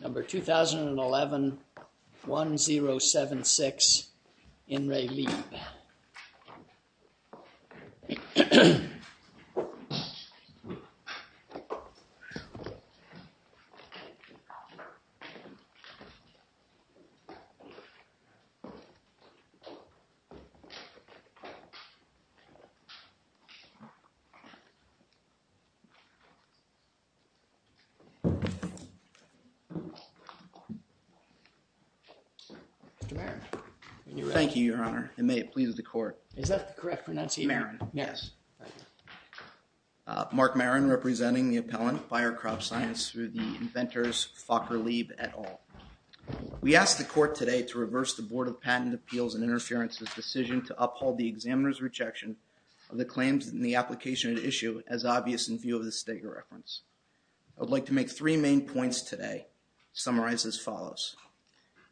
Number 2011-1076 IN RE LIEB Thank you, Your Honor, and may it please the Court. Is that the correct pronunciation? Marron. Yes. Mark Marron, representing the appellant, Fire, Crop, Science, through the inventors Fokker Lieb et al. We ask the Court today to reverse the Board of Patent Appeals and Interference's decision to uphold the examiner's rejection of the claims in the application at issue as obvious in view of the Steger reference. I would like to make three main points today, summarized as follows.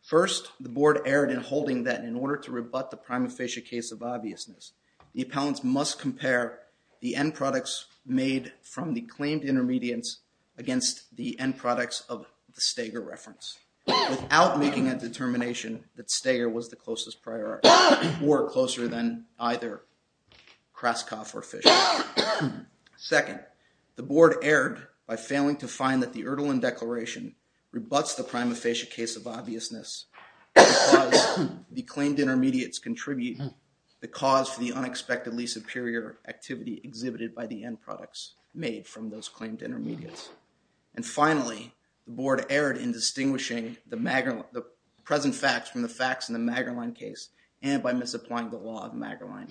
First, the Board erred in holding that in order to rebut the prima facie case of obviousness, the appellants must compare the end products made from the claimed intermediates against the end products of the Steger reference without making a determination that Steger was the closest priority or closer than either Kraskov or Fischer. Second, the Board erred by failing to find that the Erdeland Declaration rebuts the prima facie case of obviousness because the claimed intermediates contribute the cause for the unexpectedly superior activity exhibited by the end products made from those claimed intermediates. And finally, the Board erred in distinguishing the present facts from the facts in the Magerlein case and by misapplying the law of Magerlein.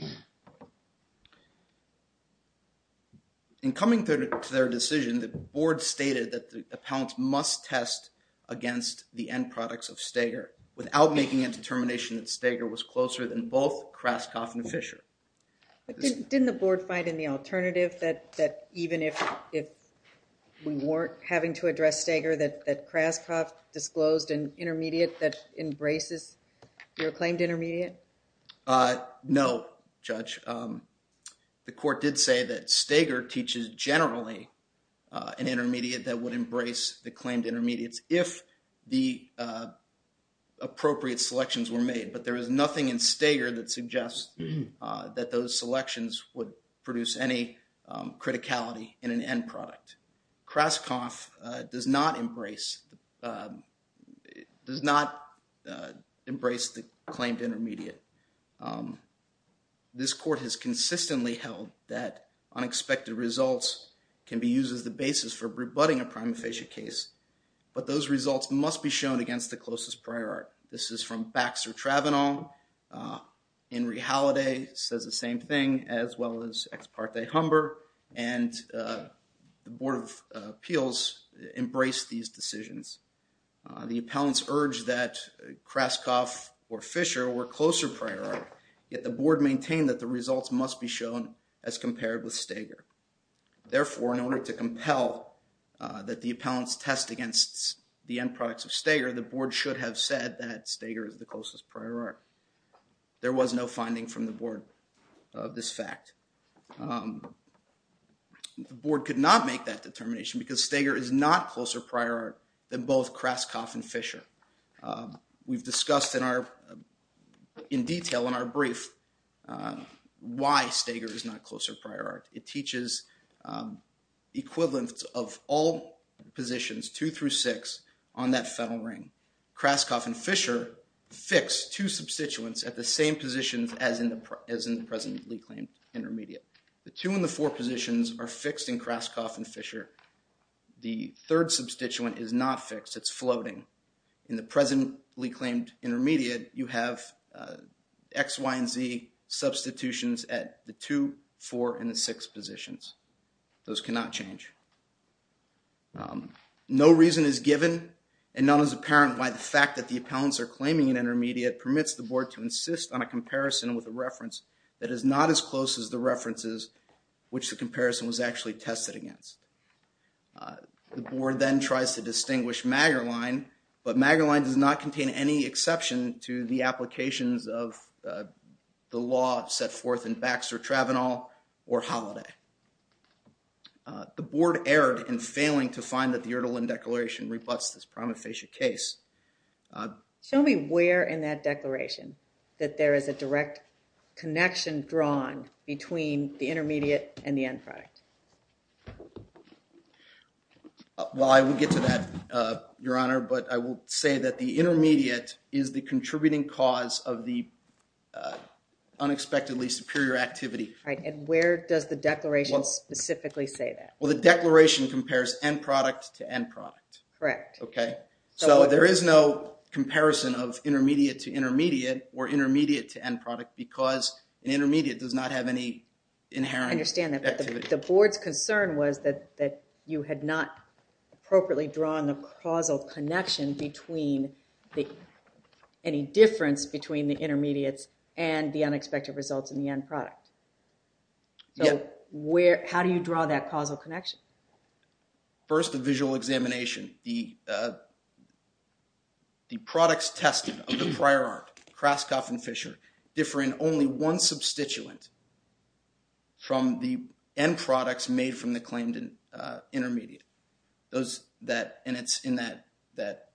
In coming to their decision, the Board stated that the appellants must test against the end products of Steger without making a determination that Steger was closer than both Kraskov and Fischer. But didn't the Board find in the alternative that even if we weren't having to address Steger, that Kraskov disclosed an intermediate that embraces your claimed intermediate? No, Judge. The Court did say that Steger teaches generally an intermediate that would embrace the claimed intermediates if the appropriate selections were made. But there is nothing in Steger that suggests that those selections would produce any criticality in an end product. Kraskov does not embrace the claimed intermediate. This Court has consistently held that unexpected results can be used as the basis for rebutting a prime facie case, but those results must be shown against the closest prior art. This is from Baxter-Travanon. Henry Halliday says the same thing, as well as Ex Parte Humber, and the Board of Appeals embraced these decisions. The appellants urged that Kraskov or Fischer were closer prior art, yet the Board maintained that the results must be shown as compared with Steger. Therefore, in order to compel that the appellants test against the end products of Steger, the there was no finding from the Board of this fact. The Board could not make that determination because Steger is not closer prior art than both Kraskov and Fischer. We've discussed in detail in our brief why Steger is not closer prior art. It teaches equivalence of all positions two through six on that federal ring. Kraskov and Fischer fix two substituents at the same positions as in the presently claimed intermediate. The two and the four positions are fixed in Kraskov and Fischer. The third substituent is not fixed, it's floating. In the presently claimed intermediate, you have X, Y, and Z substitutions at the two, four, and the six positions. Those cannot change. No reason is given, and none is apparent why the fact that the appellants are claiming an intermediate permits the Board to insist on a comparison with a reference that is not as close as the references which the comparison was actually tested against. The Board then tries to distinguish Magerlein, but Magerlein does not contain any exception to the applications of the law set forth in Baxter-Travanal or Holiday. The Board erred in failing to find that the Erdeland Declaration rebuts this prima facie case. Show me where in that declaration that there is a direct connection drawn between the intermediate and the end product. Well, I will get to that, Your Honor, but I will say that the intermediate is the contributing cause of the unexpectedly superior activity. And where does the declaration specifically say that? Well, the declaration compares end product to end product. Correct. Okay. So there is no comparison of intermediate to intermediate or intermediate to end product because an intermediate does not have any inherent activity. I understand that, but the Board's concern was that you had not appropriately drawn the causal connection between any difference between the intermediates and the unexpected results in the end product. Yeah. So how do you draw that causal connection? First a visual examination. The products tested of the prior art, Kraskov and Fisher, differ in only one substituent from the end products made from the claimed intermediate, and it's in that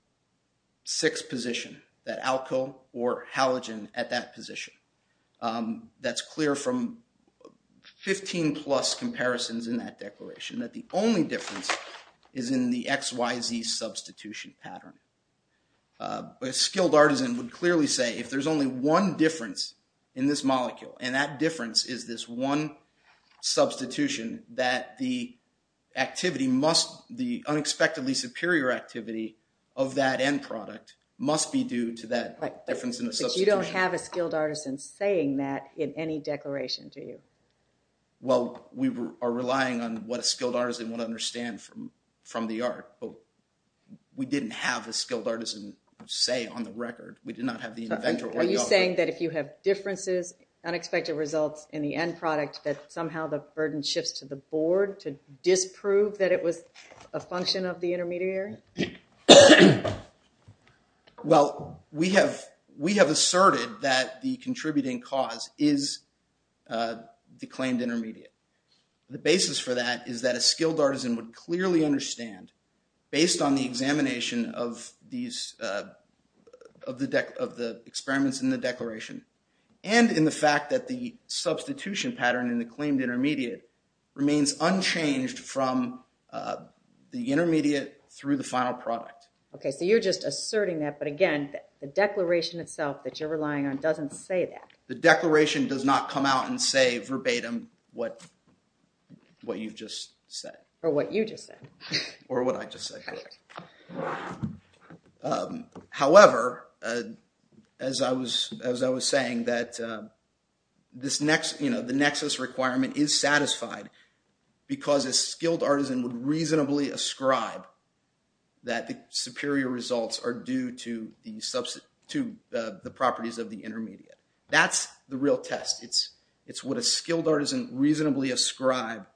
sixth position, that alkyl or halogen at that position. That's clear from 15 plus comparisons in that declaration, that the only difference is in the XYZ substitution pattern. A skilled artisan would clearly say if there's only one difference in this molecule, and that difference is this one substitution, that the activity must, the unexpectedly superior activity of that end product must be due to that difference in the substitution. But you don't have a skilled artisan saying that in any declaration, do you? Well, we are relying on what a skilled artisan would understand from the art, but we didn't have a skilled artisan say on the record. We did not have the inventor or the author. Are you saying that if you have differences, unexpected results in the end product, that somehow the burden shifts to the Board to disprove that it was a function of the intermediary? Well, we have asserted that the contributing cause is the claimed intermediate. The basis for that is that a skilled artisan would clearly understand, based on the examination of these, of the experiments in the declaration, and in the fact that the substitution pattern in the claimed intermediate remains unchanged from the intermediate through the final product. Okay, so you're just asserting that, but again, the declaration itself that you're relying on doesn't say that. The declaration does not come out and say verbatim what you've just said. Or what you just said. Or what I just said. However, as I was saying, the nexus requirement is satisfied because a skilled artisan would reasonably ascribe that the superior results are due to the properties of the intermediate. That's the real test. It's what a skilled artisan reasonably ascribe,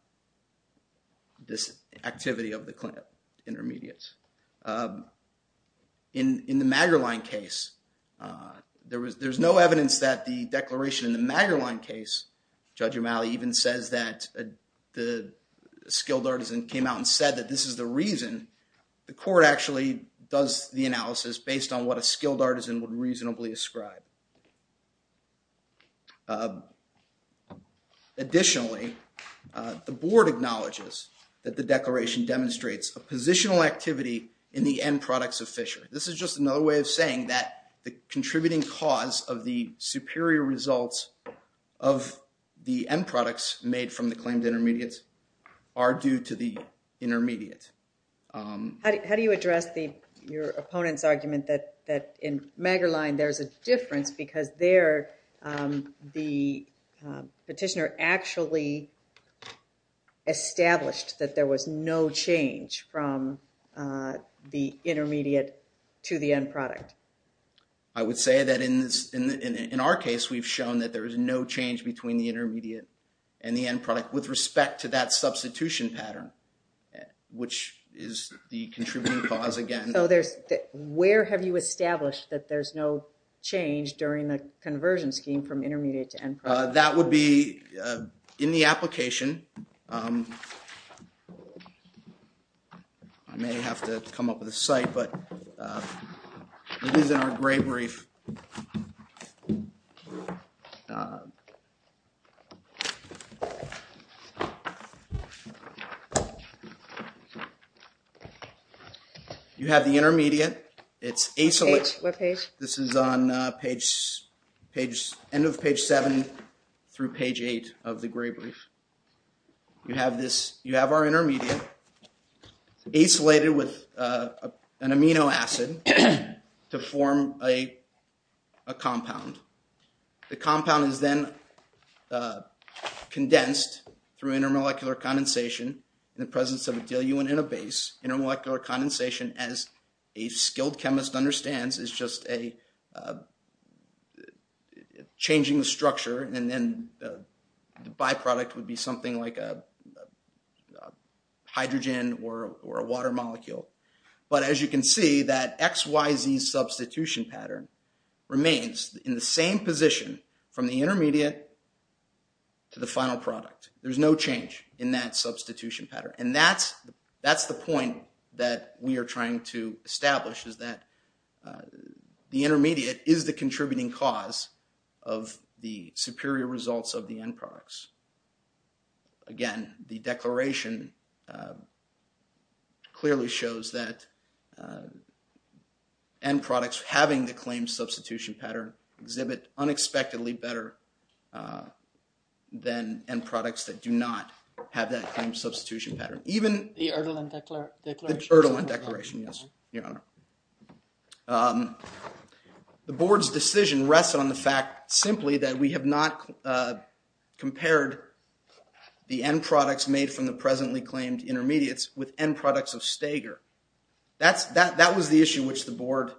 this activity of the claimed intermediates. In the Magerlein case, there's no evidence that the declaration in the Magerlein case, Judge O'Malley even says that the skilled artisan came out and said that this is the reason. The court actually does the analysis based on what a skilled artisan would reasonably ascribe. Additionally, the board acknowledges that the declaration demonstrates a positional activity in the end products of fishery. This is just another way of saying that the contributing cause of the superior results of the end products made from the claimed intermediates are due to the intermediate. How do you address your opponent's argument that in Magerlein there's a difference because there the petitioner actually established that there was no change from the intermediate to the end product? I would say that in our case, we've shown that there is no change between the intermediate and the end product with respect to that substitution pattern, which is the contributing cause again. Where have you established that there's no change during the conversion scheme from intermediate to end product? That would be in the application. I may have to come up with a site, but it is in our gray brief. You have the intermediate. It's on the end of page 7 through page 8 of the gray brief. You have our intermediate, acylated with an amino acid to form a compound. The compound is then condensed through intermolecular condensation in the presence of a diluent in a base. Intermolecular condensation, as a skilled chemist understands, is just changing the structure and then the byproduct would be something like a hydrogen or a water molecule. But as you can see, that XYZ substitution pattern remains in the same position from the intermediate to the final product. There's no change in that substitution pattern. And that's the point that we are trying to establish is that the intermediate is the contributing cause of the superior results of the end products. Again, the declaration clearly shows that end products having the claimed substitution pattern exhibit unexpectedly better than end products that do not have that claimed substitution pattern. Even the Erdeland Declaration. The Erdeland Declaration, yes, your honor. The board's decision rests on the fact simply that we have not compared the end products made from the presently claimed intermediates with end products of Stager. That was the issue which the board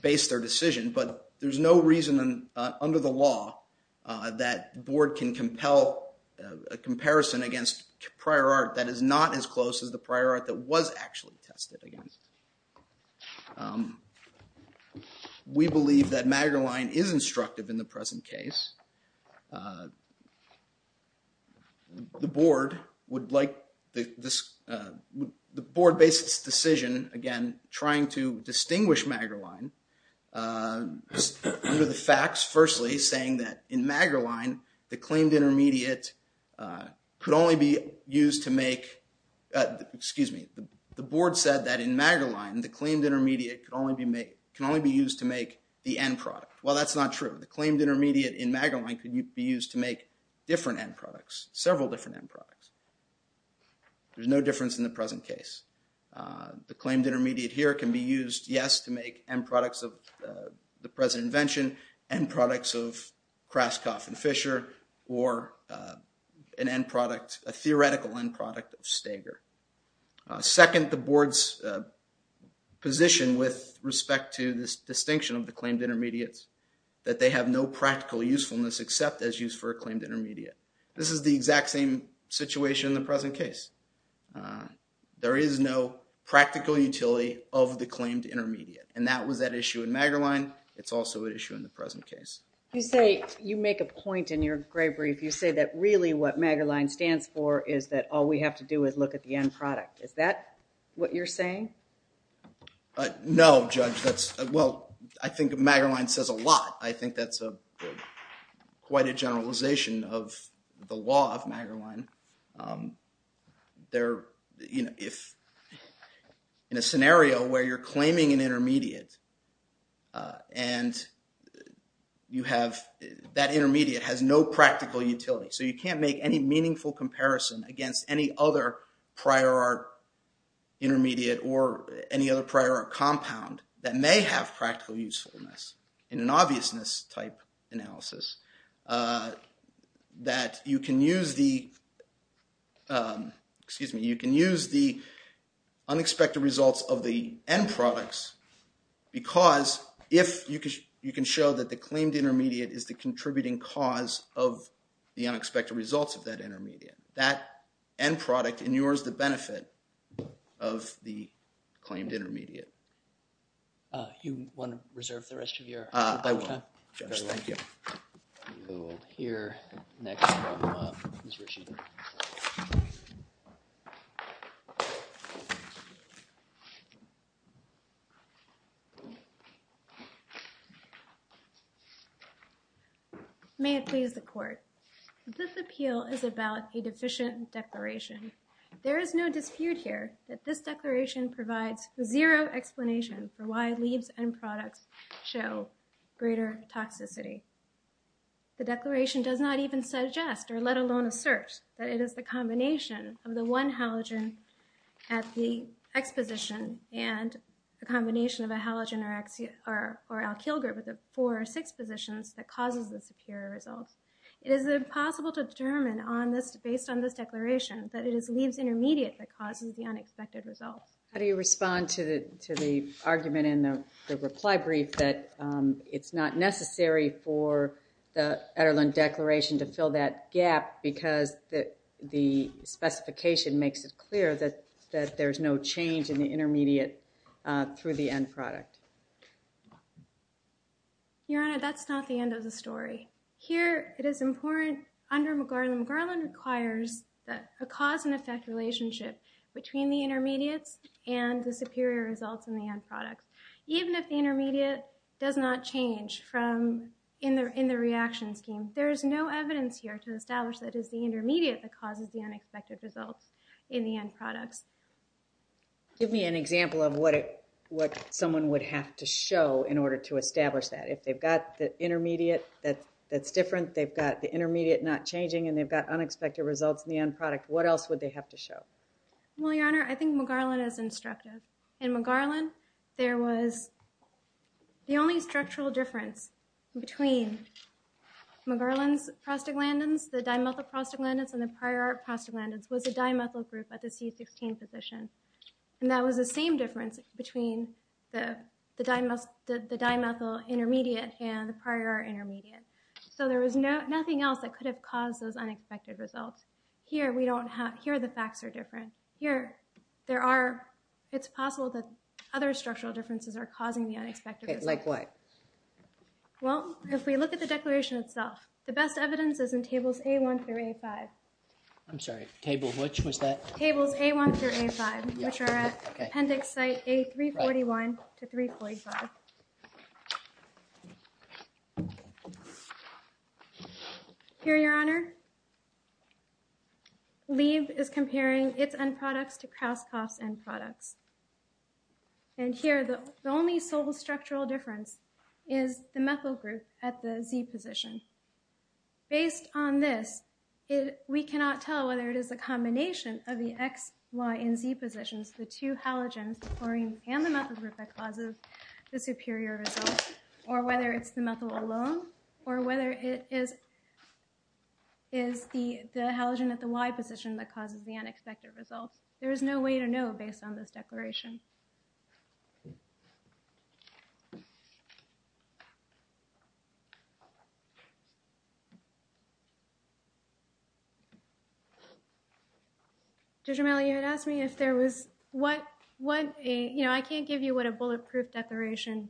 based their decision, but there's no reason under the prior art that is not as close as the prior art that was actually tested against. We believe that Magerlein is instructive in the present case. The board would like this, the board based its decision, again, trying to distinguish Magerlein under the facts, firstly, saying that in Magerlein, the claimed intermediate could only be used to make, excuse me, the board said that in Magerlein, the claimed intermediate can only be used to make the end product. Well, that's not true. The claimed intermediate in Magerlein could be used to make different end products, several different end products. There's no difference in the present case. The claimed intermediate here can be used, yes, to make end products of the present invention and products of Kraskov and Fisher or an end product, a theoretical end product of Stager. Second, the board's position with respect to this distinction of the claimed intermediates, that they have no practical usefulness except as used for a claimed intermediate. This is the exact same situation in the present case. There is no practical utility of the claimed intermediate, and that was at issue in Magerlein. It's also at issue in the present case. You say, you make a point in your gray brief. You say that really what Magerlein stands for is that all we have to do is look at the end product. Is that what you're saying? No, Judge, that's, well, I think Magerlein says a lot. I think that's quite a generalization of the law of Magerlein. In a scenario where you're claiming an intermediate and that intermediate has no practical utility, so you can't make any meaningful comparison against any other prior art intermediate or any other prior art compound that may have practical usefulness in an obviousness type analysis, that you can use the, excuse me, you can use the unexpected results of the end products because if you can show that the claimed intermediate is the contributing cause of the unexpected results of that intermediate, that end product inures the benefit of the claimed intermediate. You want to reserve the rest of your time? I will, Judge. Thank you. We will hear next from Ms. Ritchie. May it please the court. This appeal is about a deficient declaration. There is no dispute here that this declaration provides zero explanation for why leaves and products show greater toxicity. The declaration does not even suggest or let alone assert that it is the combination of the one halogen at the X position and a combination of a halogen or alkyl group at the four or six positions that causes the superior results. It is impossible to determine based on this declaration that it is leaves intermediate that causes the unexpected results. How do you respond to the argument in the reply brief that it's not necessary for the Ederlund Declaration to fill that gap because the specification makes it clear that there's no change in the intermediate through the end product? Your Honor, that's not the end of the story. Here, it is important under McGarland. McGarland requires a cause and effect relationship between the intermediates and the superior results in the end products. Even if the intermediate does not change in the reaction scheme, there is no evidence here to establish that it is the intermediate that causes the unexpected results in the end products. Give me an example of what someone would have to show in order to establish that. If they've got the intermediate that's different, they've got the intermediate not changing, and they've got unexpected results in the end product, what else would they have to show? Well, Your Honor, I think McGarland is instructive. In McGarland, there was the only structural difference between McGarland's prostaglandins, the dimethyl prostaglandins, and the prior prostaglandins was the dimethyl group at the C16 position. And that was the same difference between the dimethyl intermediate and the prior intermediate. So there was nothing else that could have caused those unexpected results. Here, the facts are different. Here, it's possible that other structural differences are causing the unexpected results. Like what? Well, if we look at the declaration itself, the best evidence is in tables A1 through A5. I'm sorry, table which was that? Tables A1 through A5, which are at appendix site A341 to 345. Here, Your Honor, Leeb is comparing its end products to Krauskopf's end products. And here, the only sole structural difference is the methyl group at the Z position. Based on this, we cannot tell whether it is a combination of the X, Y, and Z positions, the two halogens, the chlorine and the methyl group that causes the superior results, or whether it's the methyl alone, or whether it is the halogen at the Y position that causes the unexpected results. There is no way to know based on this declaration. Judge Romali, you had asked me if there was what a, you know, I can't give you what a bulletproof declaration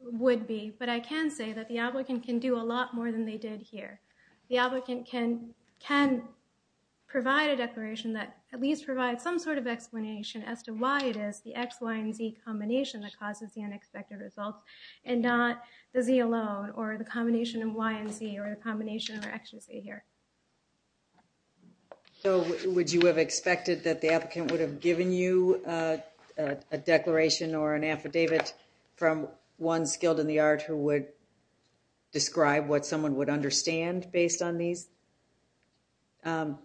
would be, but I can say that the applicant can do a lot more than they did here. The applicant can provide a declaration that at least provides some sort of explanation as to why it is the X, Y, and Z combination that causes the unexpected results, and not the Z alone, or the combination of Y and Z, or the combination of X and Z here. So, would you have expected that the applicant would have given you a declaration or an affidavit from one skilled in the art who would describe what someone would understand based on these end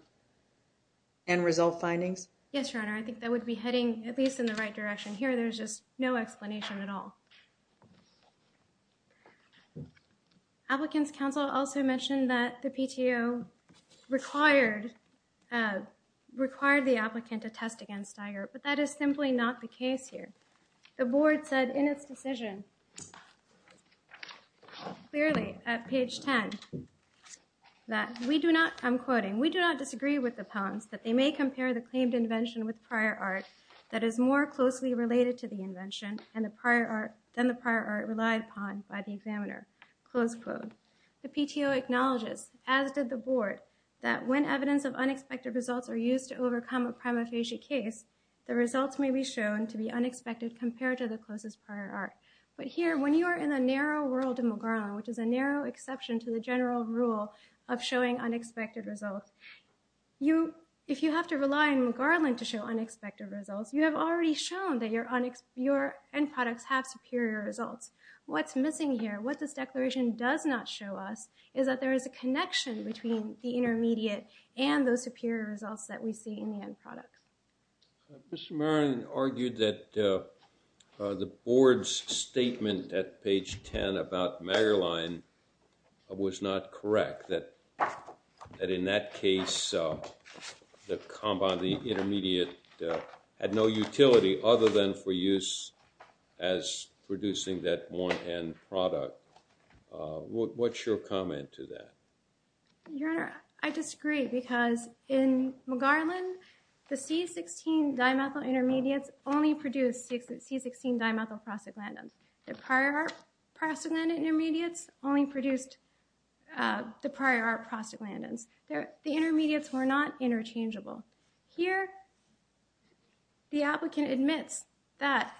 result findings? Yes, Your Honor. I think that would be heading at least in the right direction. Here, there's just no explanation at all. Applicant's counsel also mentioned that the PTO required the applicant to test against Tiger, but that is simply not the case here. The board said in its decision, clearly at page 10, that we do not, I'm quoting, we do not disagree with the puns that they may compare the claimed invention with prior art that is more closely related to the invention than the prior art relied upon by the examiner. Close quote. The PTO acknowledges, as did the board, that when evidence of unexpected results are used to overcome a prima facie case, the results may be shown to be unexpected compared to the closest prior art. But here, when you are in the narrow world of McGarland, which is a narrow exception to the general rule of showing unexpected results, if you have to rely on McGarland to show unexpected results, you have already shown that your end products have superior results. What's missing here, what this declaration does not show us, is that there is a connection between the intermediate and those superior results that we see in the end products. Mr. Marlin argued that the board's statement at page 10 about MagarLine was not correct, that in that case, the intermediate had no utility other than for use as producing that one end product. What's your comment to that? Your Honor, I disagree because in MagarLine, the C-16 dimethyl intermediates only produced C-16 dimethyl prostaglandins. The prior art prostaglandin intermediates only produced the prior art prostaglandins. The intermediates were not interchangeable. Here, the applicant admits that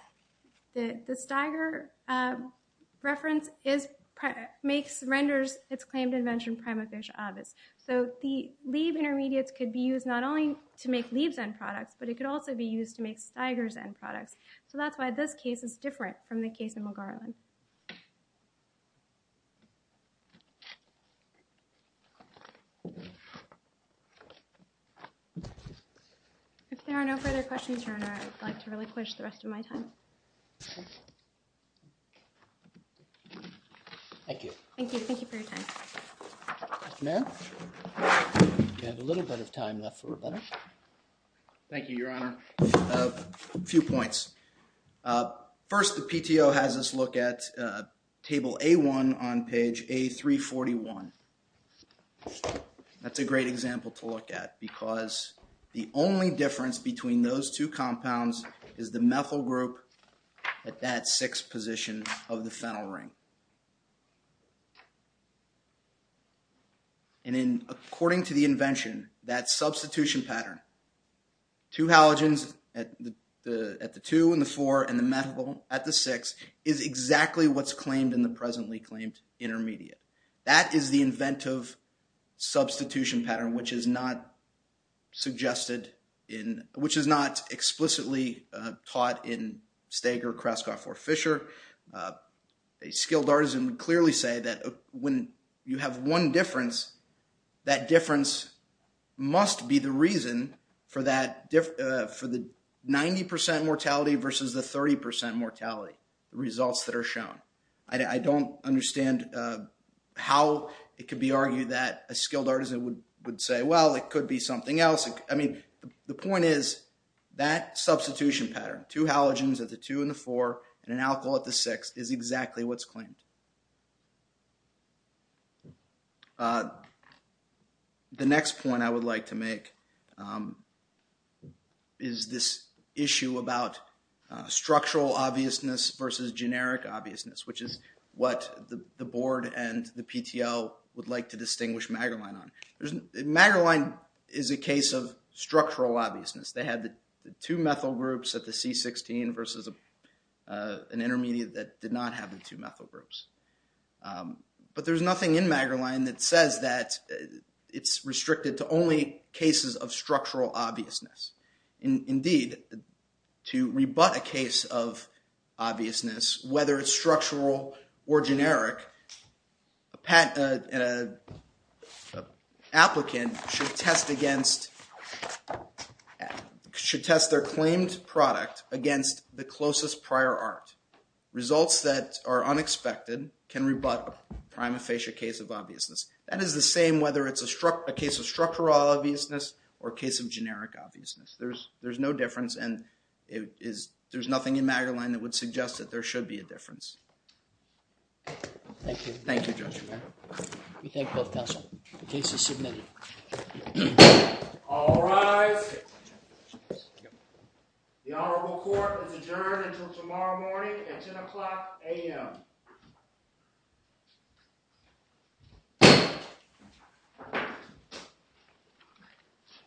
the Steiger reference renders its claimed invention prima facie obvious. So the Leib intermediates could be used not only to make Leib's end products, but it could also be used to make Steiger's end products. So that's why this case is different from the case in MagarLine. If there are no further questions, Your Honor, I'd like to really push the rest of my time. Thank you. Thank you. Thank you for your time. Mr. Mayor, we have a little bit of time left for rebuttal. Thank you, Your Honor. A few points. First, the PTO has us look at table A-1 on page A-341. That's a great example to look at because the only difference between those two compounds is the methyl group at that sixth position of the phenyl ring. And according to the invention, that substitution pattern, two halogens at the two and the four and the methyl at the six, is exactly what's claimed in the presently claimed intermediate. That is the inventive substitution pattern, which is not explicitly taught in Steiger, but a skilled artisan would clearly say that when you have one difference, that difference must be the reason for the 90% mortality versus the 30% mortality, the results that are shown. I don't understand how it could be argued that a skilled artisan would say, well, it could be something else. I mean, the point is that substitution pattern, two halogens at the two and the four and an alkyl at the six, is exactly what's claimed. The next point I would like to make is this issue about structural obviousness versus generic obviousness, which is what the board and the PTO would like to distinguish Magerlein on. Magerlein is a case of structural obviousness. They had the two methyl groups at the C16 versus an intermediate that did not have the two methyl groups. But there's nothing in Magerlein that says that it's restricted to only cases of structural obviousness. Indeed, to rebut a case of obviousness, whether it's structural or generic, an applicant should test their claimed product against the closest prior art. Results that are unexpected can rebut a prima facie case of obviousness. That is the same whether it's a case of structural obviousness or a case of generic obviousness. There's no difference, and there's nothing in Magerlein that would suggest that there should be a difference. Thank you. Thank you, Judge. We thank both counsel. The case is submitted. All rise. The Honorable Court is adjourned until tomorrow morning at 10 o'clock a.m.